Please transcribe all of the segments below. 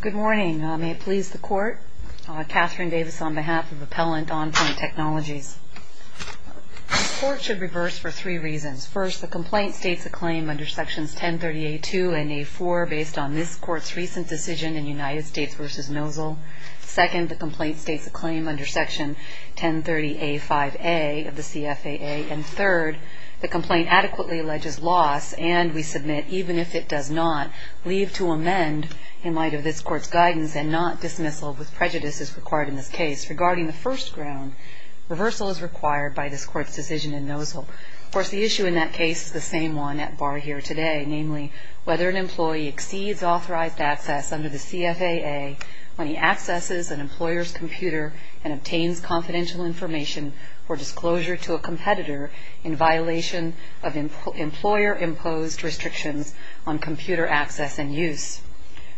Good morning. May it please the Court, Katherine Davis on behalf of Appellant, On Pointe Technologies. This Court should reverse for three reasons. First, the complaint states a claim under Sections 1030A2 and A4 based on this Court's recent decision in United States v. Nosal. Second, the complaint states a claim under Section 1030A5A of the CFAA. And third, the complaint adequately alleges loss and we submit, even if it does not, leave to amend in light of this Court's guidance and not dismissal with prejudice as required in this case. Regarding the first ground, reversal is required by this Court's decision in Nosal. Of course, the issue in that case is the same one at bar here today, namely whether an employee exceeds authorized access under the CFAA when he accesses an employer's computer and obtains confidential information or disclosure to a competitor in violation of employer-imposed restrictions on computer access and use.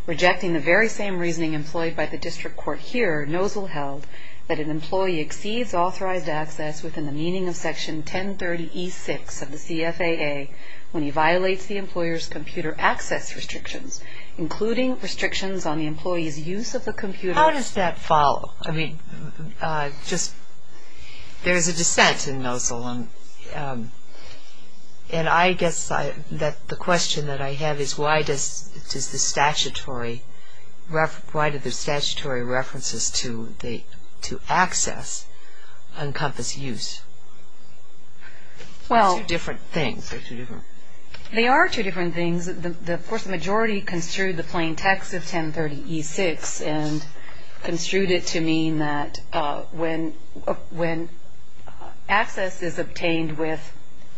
Rejecting the very same reasoning employed by the District Court here, Nosal held that an employee exceeds authorized access within the meaning of Section 1030E6 of the CFAA when he violates the employer's computer access restrictions, including restrictions on the employee's use of the computer. How does that follow? I mean, just, there's a dissent in Nosal, and I guess that the question that I have is why does the statutory references to access encompass use? They're two different things. They are two different things. Of course, the majority construed the plain text of 1030E6 and construed it to mean that when access is obtained with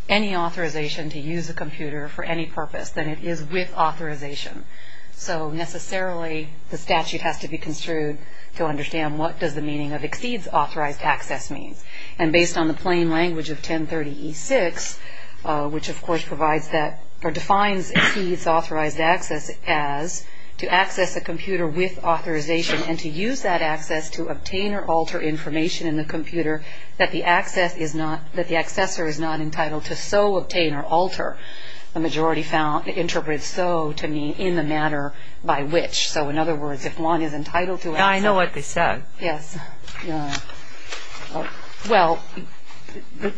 any authorization to use a computer for any purpose, then it is with authorization. So necessarily the statute has to be construed to understand what does the meaning of exceeds authorized access mean. And based on the plain language of 1030E6, which, of course, provides that or defines exceeds authorized access as to access a computer with authorization and to use that access to obtain or alter information in the computer that the accessor is not entitled to so obtain or alter. The majority interpreted so to mean in the matter by which. So, in other words, if one is entitled to access. I know what they said. Yes. Well,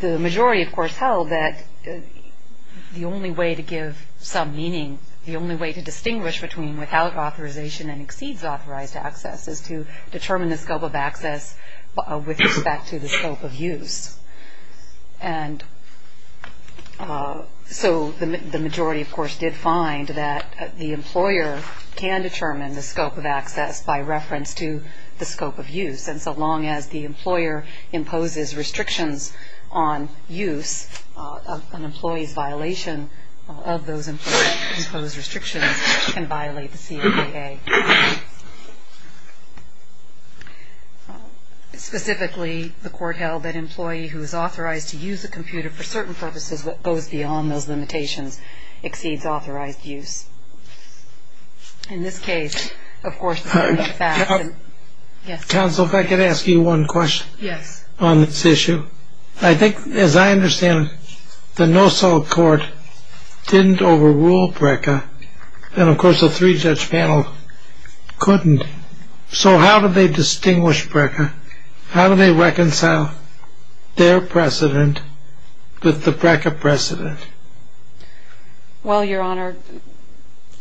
the majority, of course, held that the only way to give some meaning, the only way to distinguish between without authorization and exceeds authorized access, is to determine the scope of access with respect to the scope of use. And so the majority, of course, did find that the employer can determine the scope of access by reference to the scope of use. And so long as the employer imposes restrictions on use, an employee's violation of those imposed restrictions can violate the CDAA. Specifically, the court held that an employee who is authorized to use a computer for certain purposes that goes beyond those limitations exceeds authorized use. In this case, of course, the facts. Counsel, if I could ask you one question. Yes. On this issue. I think, as I understand it, the NOSOL court didn't overrule BRCA. And, of course, the three-judge panel couldn't. So how do they distinguish BRCA? How do they reconcile their precedent with the BRCA precedent? Well, Your Honor,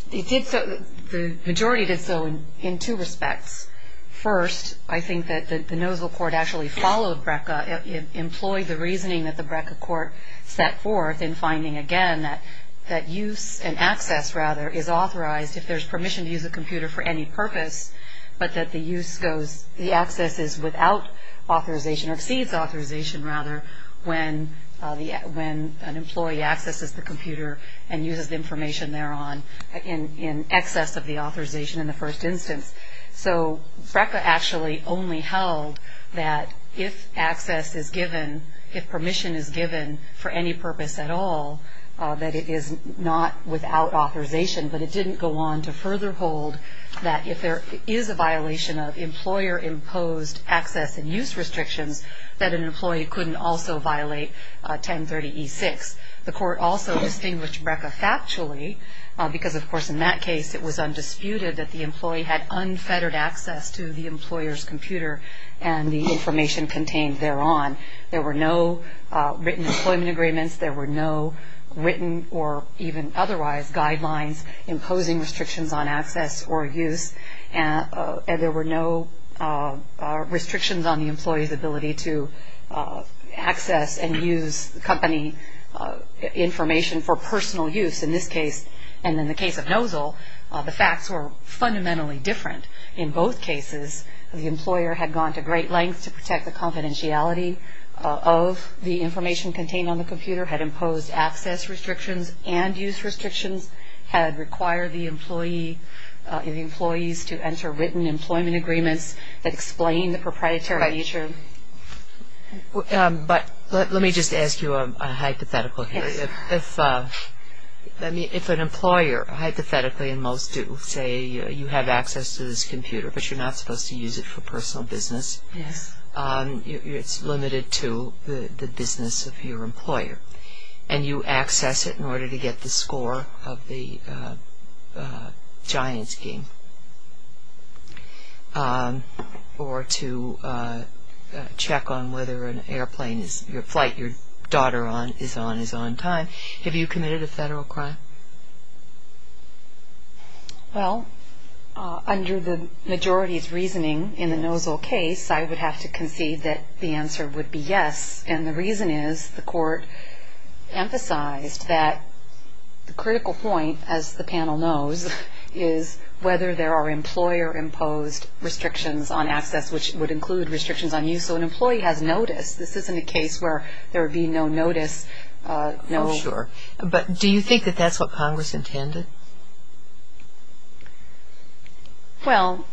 the majority did so in two respects. First, I think that the NOSOL court actually followed BRCA, employed the reasoning that the BRCA court set forth in finding, again, that use and access, rather, is authorized if there's permission to use a computer for any purpose, but that the access is without authorization or exceeds authorization, rather, when an employee accesses the computer and uses the information thereon in excess of the authorization in the first instance. So BRCA actually only held that if access is given, if permission is given for any purpose at all, that it is not without authorization. But it didn't go on to further hold that if there is a violation of employer-imposed access and use restrictions, that an employee couldn't also violate 1030E6. The court also distinguished BRCA factually because, of course, in that case, it was undisputed that the employee had unfettered access to the employer's computer and the information contained thereon. There were no written employment agreements. There were no written or even otherwise guidelines imposing restrictions on access or use. And there were no restrictions on the employee's ability to access and use company information for personal use in this case. And in the case of NOZL, the facts were fundamentally different. In both cases, the employer had gone to great lengths to protect the confidentiality of the information contained on the computer, had imposed access restrictions and use restrictions, had required the employees to enter written employment agreements that explained the proprietary nature. But let me just ask you a hypothetical here. If an employer, hypothetically, and most do, say you have access to this computer, but you're not supposed to use it for personal business, it's limited to the business of your employer. And you access it in order to get the score of the giant scheme or to check on whether your daughter is on time. Have you committed a federal crime? Well, under the majority's reasoning in the NOZL case, I would have to concede that the answer would be yes. And the reason is the court emphasized that the critical point, as the panel knows, is whether there are employer-imposed restrictions on access, which would include restrictions on use. So an employee has notice. This isn't a case where there would be no notice. Oh, sure. But do you think that that's what Congress intended? Well,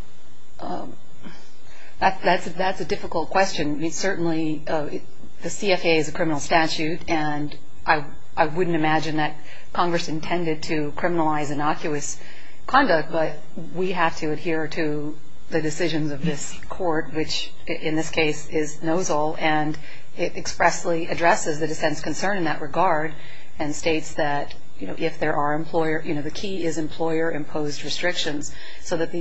that's a difficult question. I mean, certainly the CFA is a criminal statute, and I wouldn't imagine that Congress intended to criminalize innocuous conduct. But we have to adhere to the decisions of this court, which in this case is NOZL, and it expressly addresses the dissent's concern in that regard and states that if there are employer – you know, the key is employer-imposed restrictions. So that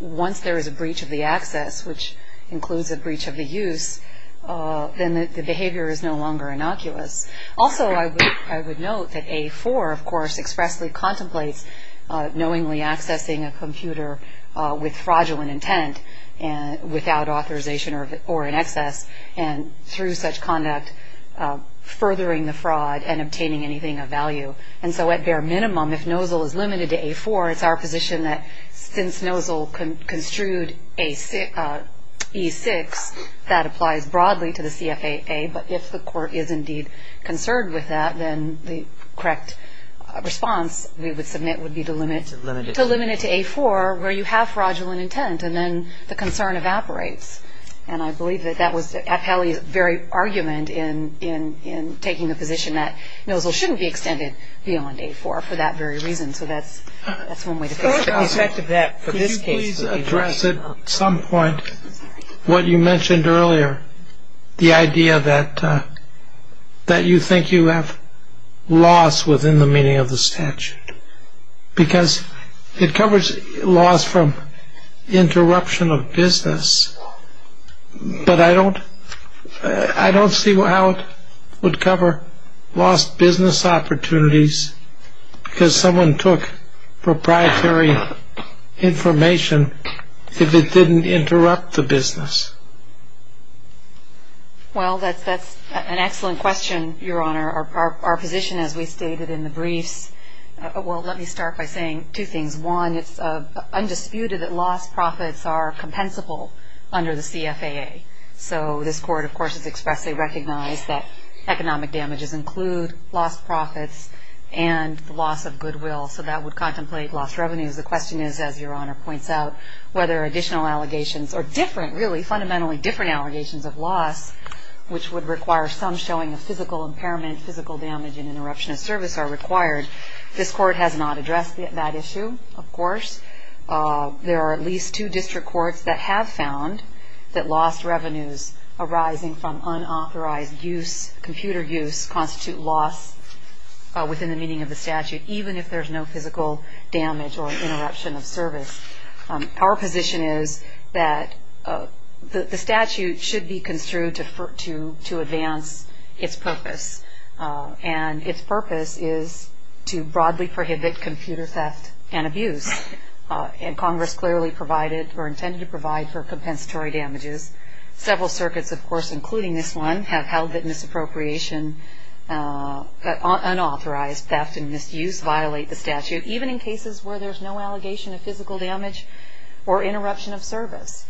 once there is a breach of the access, which includes a breach of the use, then the behavior is no longer innocuous. Also, I would note that A4, of course, expressly contemplates knowingly accessing a computer with fraudulent intent, without authorization or in excess, and through such conduct furthering the fraud and obtaining anything of value. And so at bare minimum, if NOZL is limited to A4, it's our position that since NOZL construed E6, that applies broadly to the CFAA. But if the court is indeed concerned with that, then the correct response we would submit would be to limit it to A4, where you have fraudulent intent, and then the concern evaporates. And I believe that that was Appellee's very argument in taking the position that NOZL shouldn't be extended beyond A4 for that very reason. So that's one way to think about it. Could you please address at some point what you mentioned earlier, the idea that you think you have loss within the meaning of the statute? Because it covers loss from interruption of business, but I don't see how it would cover lost business opportunities because someone took proprietary information if it didn't interrupt the business. Well, that's an excellent question, Your Honor. Our position, as we stated in the briefs, well, let me start by saying two things. One, it's undisputed that lost profits are compensable under the CFAA. So this court, of course, has expressly recognized that economic damages include lost profits and loss of goodwill. So that would contemplate lost revenues. The question is, as Your Honor points out, whether additional allegations are different, really fundamentally different allegations of loss, which would require some showing of physical impairment, physical damage, and interruption of service are required. This court has not addressed that issue, of course. There are at least two district courts that have found that lost revenues arising from unauthorized use, computer use, constitute loss within the meaning of the statute, even if there's no physical damage or interruption of service. Our position is that the statute should be construed to advance its purpose, and its purpose is to broadly prohibit computer theft and abuse, and Congress clearly provided or intended to provide for compensatory damages. Several circuits, of course, including this one, have held that misappropriation, unauthorized theft and misuse violate the statute, even in cases where there's no allegation of physical damage or interruption of service.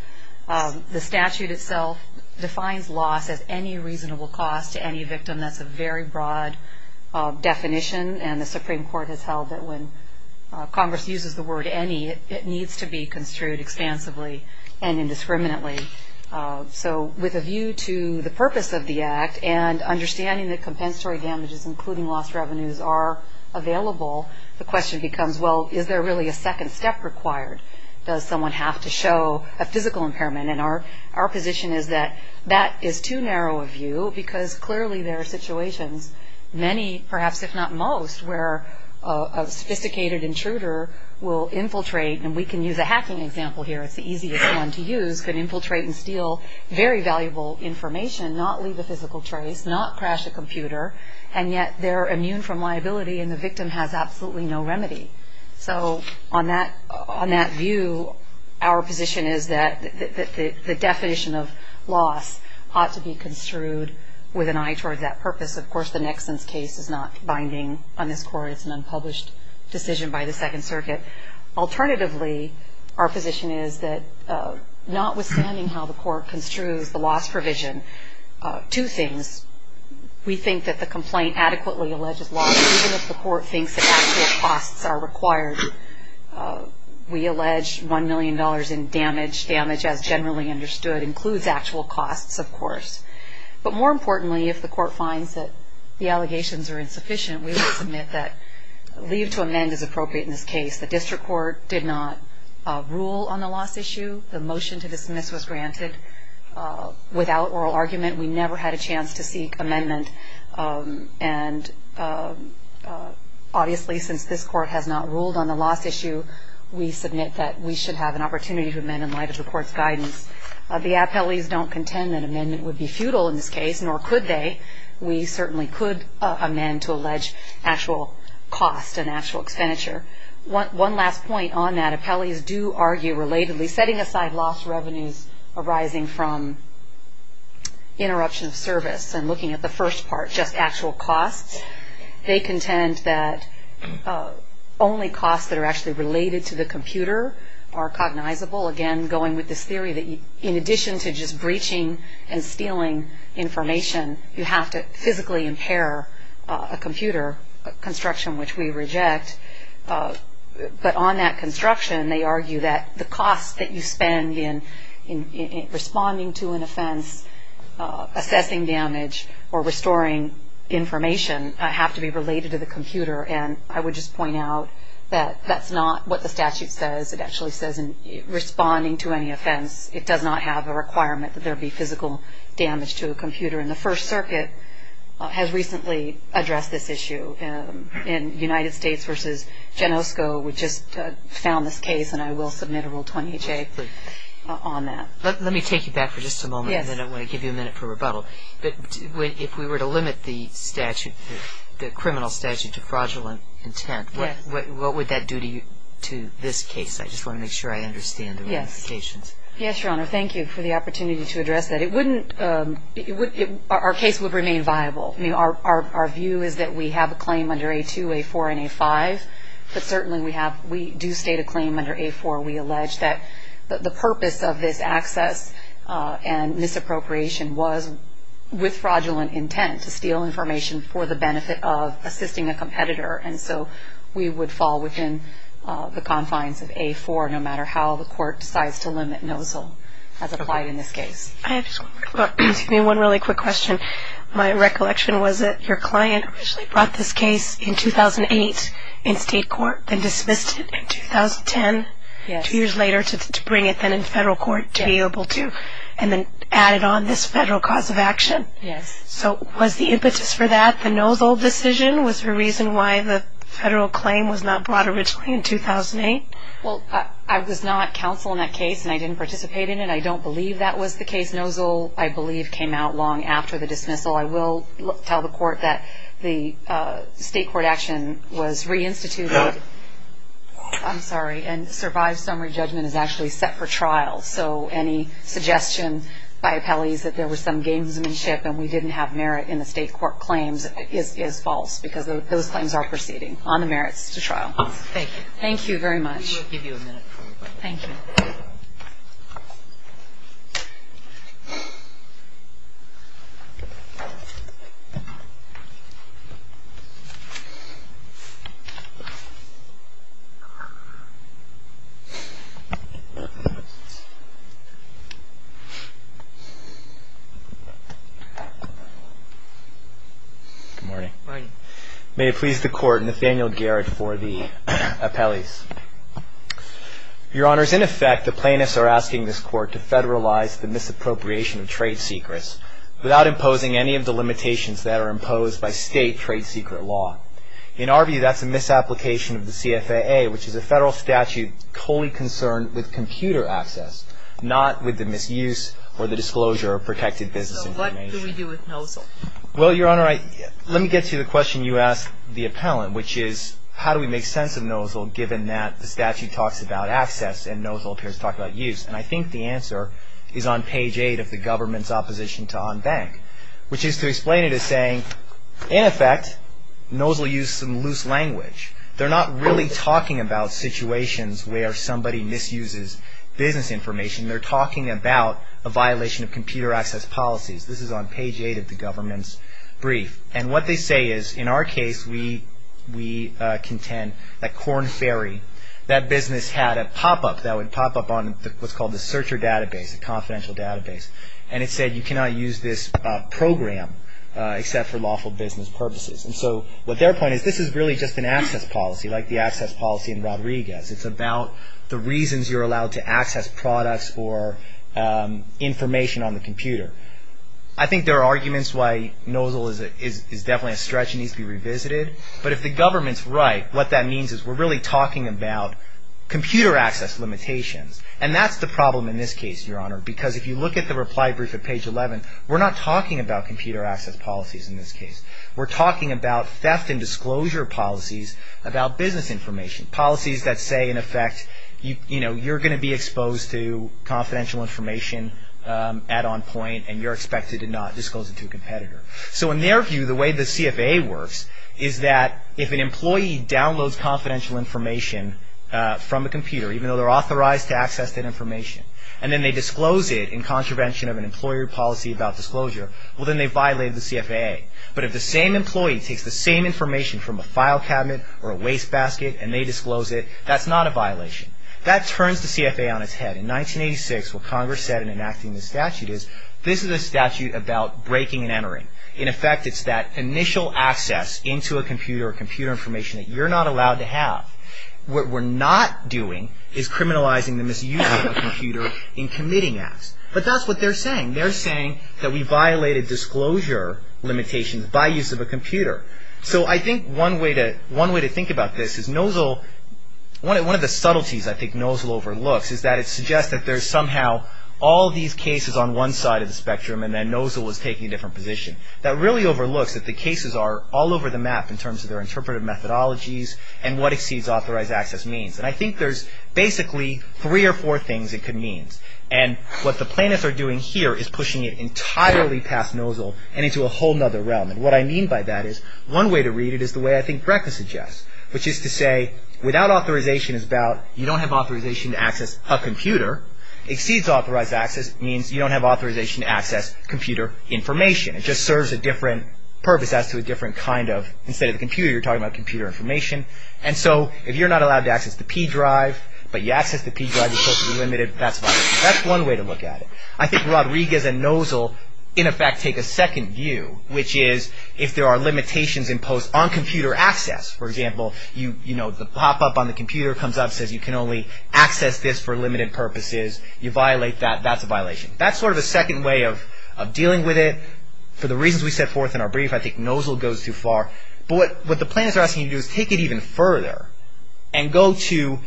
The statute itself defines loss as any reasonable cost to any victim. That's a very broad definition, and the Supreme Court has held that when Congress uses the word any, it needs to be construed expansively and indiscriminately. So with a view to the purpose of the Act and understanding that compensatory damages, including lost revenues, are available, the question becomes, well, is there really a second step required? Does someone have to show a physical impairment? And our position is that that is too narrow a view, because clearly there are situations, many, perhaps if not most, where a sophisticated intruder will infiltrate, and we can use a hacking example here, it's the easiest one to use, can infiltrate and steal very valuable information, not leave a physical trace, not crash a computer, and yet they're immune from liability and the victim has absolutely no remedy. So on that view, our position is that the definition of loss ought to be construed with an eye towards that purpose. Of course, the Nexon's case is not binding on this Court. It's an unpublished decision by the Second Circuit. Alternatively, our position is that notwithstanding how the Court construes the loss provision, two things, we think that the complaint adequately alleges loss, even if the Court thinks that actual costs are required. We allege $1 million in damage. Damage, as generally understood, includes actual costs, of course. But more importantly, if the Court finds that the allegations are insufficient, we would submit that leave to amend is appropriate in this case. The District Court did not rule on the loss issue. The motion to dismiss was granted without oral argument. We never had a chance to seek amendment. And obviously, since this Court has not ruled on the loss issue, we submit that we should have an opportunity to amend in light of the Court's guidance. The appellees don't contend that amendment would be futile in this case, nor could they. We certainly could amend to allege actual costs and actual expenditure. One last point on that. The appellees do argue relatedly, setting aside loss revenues arising from interruption of service and looking at the first part, just actual costs, they contend that only costs that are actually related to the computer are cognizable. Again, going with this theory that in addition to just breaching and stealing information, you have to physically impair a computer, a construction which we reject. But on that construction, they argue that the costs that you spend in responding to an offense, assessing damage, or restoring information have to be related to the computer. And I would just point out that that's not what the statute says. It actually says in responding to any offense, it does not have a requirement that there be physical damage to a computer. And the First Circuit has recently addressed this issue in United States v. Genosco. We just found this case, and I will submit a Rule 20HA on that. Let me take you back for just a moment, and then I want to give you a minute for rebuttal. But if we were to limit the statute, the criminal statute to fraudulent intent, what would that do to this case? I just want to make sure I understand the ramifications. Yes, Your Honor. Thank you for the opportunity to address that. Our case would remain viable. Our view is that we have a claim under A2, A4, and A5. But certainly we do state a claim under A4. We allege that the purpose of this access and misappropriation was with fraudulent intent, to steal information for the benefit of assisting a competitor. And so we would fall within the confines of A4, no matter how the court decides to limit NOSL as applied in this case. Excuse me, one really quick question. My recollection was that your client brought this case in 2008 in state court, then dismissed it in 2010, two years later to bring it then in federal court to be able to, and then added on this federal cause of action. Yes. So was the impetus for that the NOSL decision? Was there a reason why the federal claim was not brought originally in 2008? Well, I was not counsel in that case, and I didn't participate in it. I don't believe that was the case. NOSL, I believe, came out long after the dismissal. I will tell the court that the state court action was reinstituted. I'm sorry. And survived summary judgment is actually set for trial. So any suggestion by appellees that there was some gamesmanship and we didn't have merit in the state court claims is false, because those claims are proceeding on the merits to trial. Thank you. Thank you very much. We will give you a minute. Thank you. Good morning. Good morning. May it please the Court, Nathaniel Garrett for the appellees. Your Honors, in effect, the plaintiffs are asking this Court to federalize the misappropriation of trade secrets without imposing any of the limitations that are imposed by state trade secret law. In our view, that's a misapplication of the CFAA, which is a federal statute wholly concerned with computer access, not with the misuse or the disclosure of protected business information. So what do we do with NOSL? Well, Your Honor, let me get to the question you asked the appellant, which is how do we make sense of NOSL given that the statute talks about access and NOSL appears to talk about use. And I think the answer is on page 8 of the government's opposition to OnBank, which is to explain it as saying, in effect, NOSL used some loose language. They're not really talking about situations where somebody misuses business information. They're talking about a violation of computer access policies. This is on page 8 of the government's brief. And what they say is, in our case, we contend that Korn Ferry, that business had a pop-up that would pop up on what's called the searcher database, a confidential database, and it said you cannot use this program except for lawful business purposes. And so what their point is, this is really just an access policy, like the access policy in Rodriguez. It's about the reasons you're allowed to access products or information on the computer. I think there are arguments why NOSL is definitely a stretch and needs to be revisited. But if the government's right, what that means is we're really talking about computer access limitations. And that's the problem in this case, Your Honor, because if you look at the reply brief at page 11, we're not talking about computer access policies in this case. We're talking about theft and disclosure policies about business information, policies that say, in effect, you're going to be exposed to confidential information at on point and you're expected to not disclose it to a competitor. So in their view, the way the CFA works is that if an employee downloads confidential information from a computer, even though they're authorized to access that information, and then they disclose it in contravention of an employer policy about disclosure, well, then they violate the CFA. But if the same employee takes the same information from a file cabinet or a wastebasket and they disclose it, that's not a violation. That turns the CFA on its head. In 1986, what Congress said in enacting this statute is, this is a statute about breaking and entering. In effect, it's that initial access into a computer or computer information that you're not allowed to have. What we're not doing is criminalizing the misuse of a computer in committing acts. But that's what they're saying. They're saying that we violated disclosure limitations by use of a computer. So I think one way to think about this is Nozell, one of the subtleties I think Nozell overlooks is that it suggests that there's somehow all these cases on one side of the spectrum and then Nozell was taking a different position. That really overlooks that the cases are all over the map in terms of their interpretive methodologies and what exceeds authorized access means. And I think there's basically three or four things it could mean. And what the plaintiffs are doing here is pushing it entirely past Nozell and into a whole other realm. And what I mean by that is, one way to read it is the way I think Brecker suggests, which is to say without authorization is about you don't have authorization to access a computer. Exceeds authorized access means you don't have authorization to access computer information. It just serves a different purpose as to a different kind of, instead of the computer you're talking about computer information. And so if you're not allowed to access the P drive, but you access the P drive, you're supposedly limited, that's violation. That's one way to look at it. I think Rodriguez and Nozell in effect take a second view, which is if there are limitations imposed on computer access, for example, you know, the pop-up on the computer comes up, says you can only access this for limited purposes. You violate that, that's a violation. That's sort of a second way of dealing with it. For the reasons we set forth in our brief, I think Nozell goes too far. But what the plaintiffs are asking you to do is take it even further and go to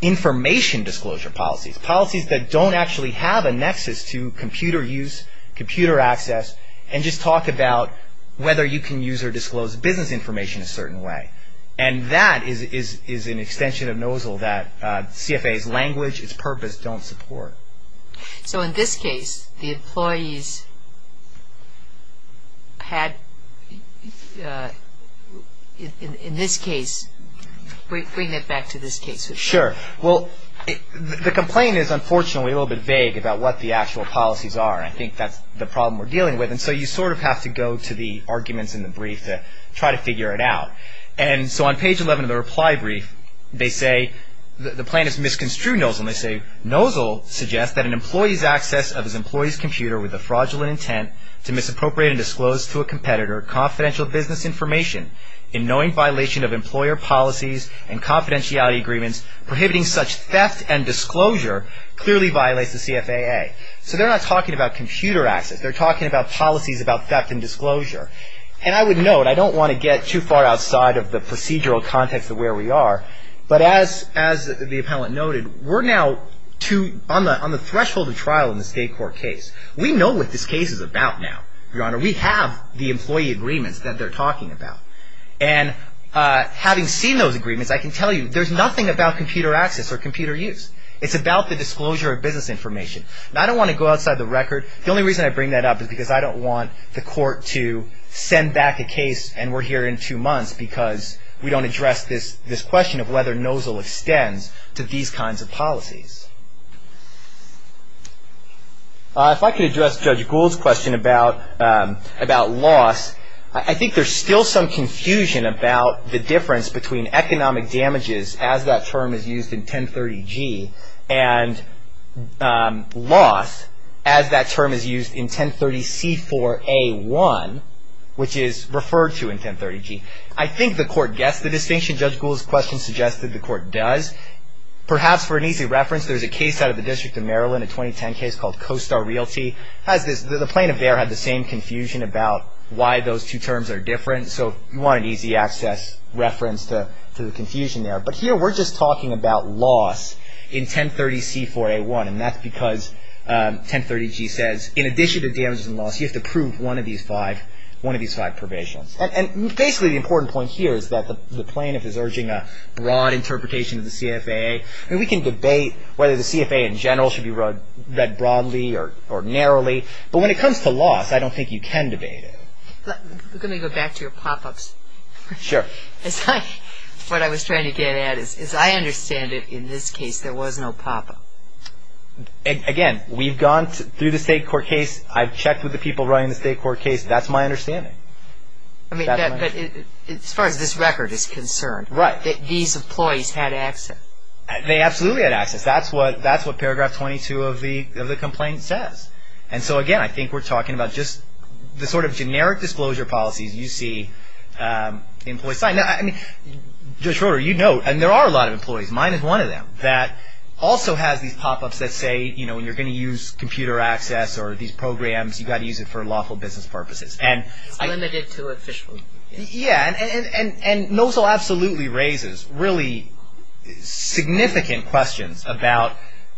information disclosure policies, policies that don't actually have a nexus to computer use, computer access, and just talk about whether you can use or disclose business information a certain way. And that is an extension of Nozell that CFA's language, its purpose, don't support. So in this case, the employees had, in this case, bring it back to this case. Sure. Well, the complaint is unfortunately a little bit vague about what the actual policies are. I think that's the problem we're dealing with. And so you sort of have to go to the arguments in the brief to try to figure it out. And so on page 11 of the reply brief, they say, the plaintiff's misconstrued Nozell. They say, Nozell suggests that an employee's access of his employee's computer with the fraudulent intent to misappropriate and disclose to a competitor confidential business information in knowing violation of employer policies and confidentiality agreements, prohibiting such theft and disclosure, clearly violates the CFAA. So they're not talking about computer access. They're talking about policies about theft and disclosure. And I would note, I don't want to get too far outside of the procedural context of where we are, but as the appellant noted, we're now on the threshold of trial in this state court case. We know what this case is about now, Your Honor. We have the employee agreements that they're talking about. And having seen those agreements, I can tell you there's nothing about computer access or computer use. It's about the disclosure of business information. And I don't want to go outside the record. The only reason I bring that up is because I don't want the court to send back a case and we're here in two months because we don't address this question of whether Nozell extends to these kinds of policies. If I could address Judge Gould's question about loss, I think there's still some confusion about the difference between economic damages, as that term is used in 1030G, and loss, as that term is used in 1030C4A1, which is referred to in 1030G. I think the court gets the distinction. Judge Gould's question suggests that the court does. Perhaps for an easy reference, there's a case out of the District of Maryland, a 2010 case called Coastal Realty. The plaintiff there had the same confusion about why those two terms are different. So you want an easy access reference to the confusion there. But here we're just talking about loss in 1030C4A1. And that's because 1030G says, in addition to damages and loss, you have to prove one of these five provisions. And basically the important point here is that the plaintiff is urging a broad interpretation of the CFAA. I mean, we can debate whether the CFAA in general should be read broadly or narrowly. But when it comes to loss, I don't think you can debate it. Let me go back to your pop-ups. Sure. What I was trying to get at is I understand that in this case there was no pop-up. Again, we've gone through the state court case. I've checked with the people running the state court case. That's my understanding. I mean, as far as this record is concerned, these employees had access. They absolutely had access. That's what paragraph 22 of the complaint says. And so, again, I think we're talking about just the sort of generic disclosure policies you see. Now, I mean, Judge Schroeder, you know, and there are a lot of employees. Mine is one of them that also has these pop-ups that say, you know, when you're going to use computer access or these programs, you've got to use it for lawful business purposes. It's limited to official. Yeah, and Nozell absolutely raises really significant questions about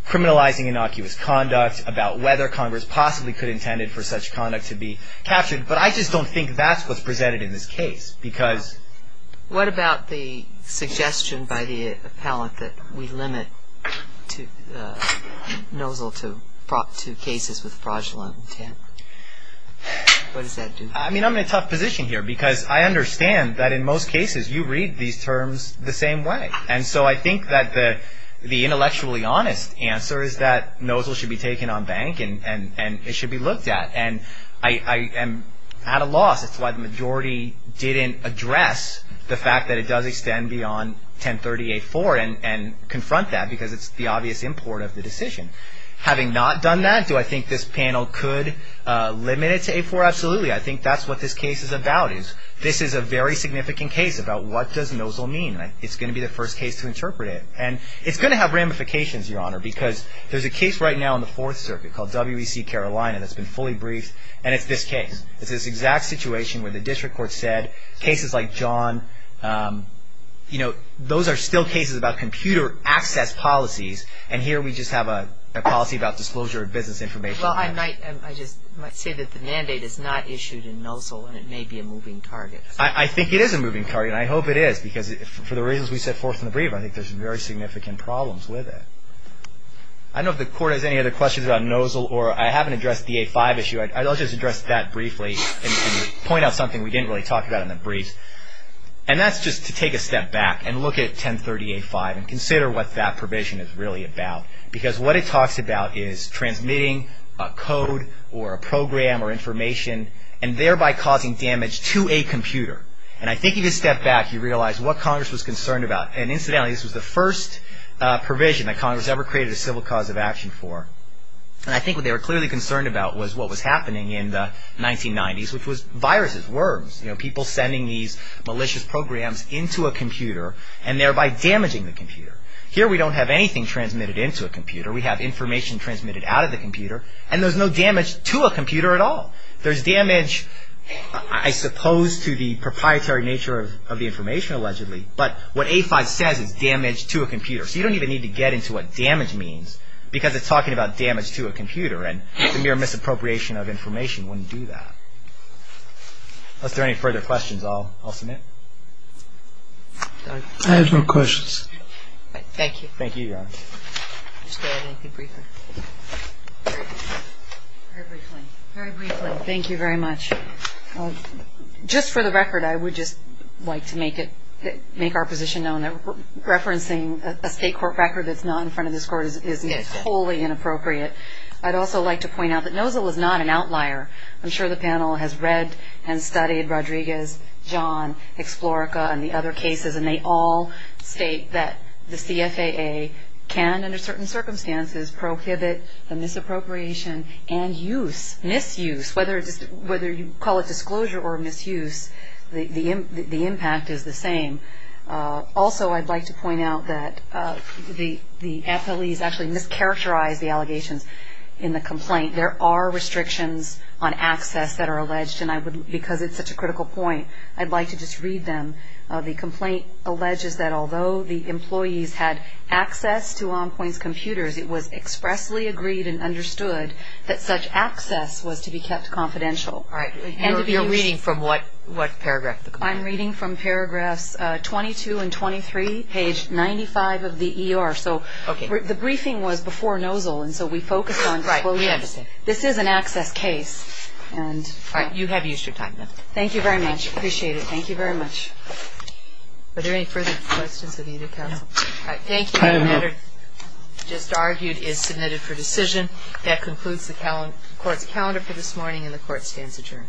criminalizing innocuous conduct, about whether Congress possibly could have intended for such conduct to be captured. But I just don't think that's what's presented in this case because... What about the suggestion by the appellant that we limit Nozell to cases with fraudulent intent? What does that do? I mean, I'm in a tough position here because I understand that in most cases you read these terms the same way. And so I think that the intellectually honest answer is that Nozell should be taken on bank and it should be looked at. And I am at a loss. It's why the majority didn't address the fact that it does extend beyond 1038-4 and confront that because it's the obvious import of the decision. Having not done that, do I think this panel could limit it to 8-4? Absolutely. I think that's what this case is about is this is a very significant case about what does Nozell mean. It's going to be the first case to interpret it. And it's going to have ramifications, Your Honor, because there's a case right now in the Fourth Circuit called WEC Carolina that's been fully briefed, and it's this case. It's this exact situation where the district court said cases like John, you know, those are still cases about computer access policies. And here we just have a policy about disclosure of business information. Well, I might say that the mandate is not issued in Nozell, and it may be a moving target. I think it is a moving target, and I hope it is because for the reasons we set forth in the brief, I think there's very significant problems with it. I don't know if the Court has any other questions about Nozell, or I haven't addressed the 8-5 issue. I'll just address that briefly and point out something we didn't really talk about in the brief. And that's just to take a step back and look at 1038-5 and consider what that provision is really about. Because what it talks about is transmitting a code or a program or information, and thereby causing damage to a computer. And I think if you step back, you realize what Congress was concerned about. And incidentally, this was the first provision that Congress ever created a civil cause of action for. And I think what they were clearly concerned about was what was happening in the 1990s, which was viruses, worms, people sending these malicious programs into a computer, and thereby damaging the computer. Here we don't have anything transmitted into a computer. We have information transmitted out of the computer, and there's no damage to a computer at all. There's damage, I suppose, to the proprietary nature of the information, allegedly. But what 8-5 says is damage to a computer. So you don't even need to get into what damage means, because it's talking about damage to a computer. And the mere misappropriation of information wouldn't do that. Unless there are any further questions, I'll submit. I have no questions. Thank you. Thank you, Your Honor. Just add anything briefer. Very briefly. Very briefly. Thank you very much. Just for the record, I would just like to make our position known that referencing a state court record that's not in front of this Court is wholly inappropriate. I'd also like to point out that NOZA was not an outlier. I'm sure the panel has read and studied Rodriguez, John, Exflorica, and the other cases, and they all state that the CFAA can, under certain circumstances, prohibit the misappropriation and use, misuse. Whether you call it disclosure or misuse, the impact is the same. Also, I'd like to point out that the FLEs actually mischaracterized the allegations in the complaint. There are restrictions on access that are alleged, and because it's such a critical point, I'd like to just read them. The complaint alleges that although the employees had access to EnPointe's computers, it was expressly agreed and understood that such access was to be kept confidential. All right. You're reading from what paragraph? I'm reading from paragraphs 22 and 23, page 95 of the ER. So the briefing was before NOZA, and so we focused on quoting. This is an access case. All right. You have used your time, then. Thank you very much. I appreciate it. Thank you very much. Are there any further questions of either counsel? All right. Thank you. The matter just argued is submitted for decision. That concludes the Court's calendar for this morning, and the Court stands adjourned.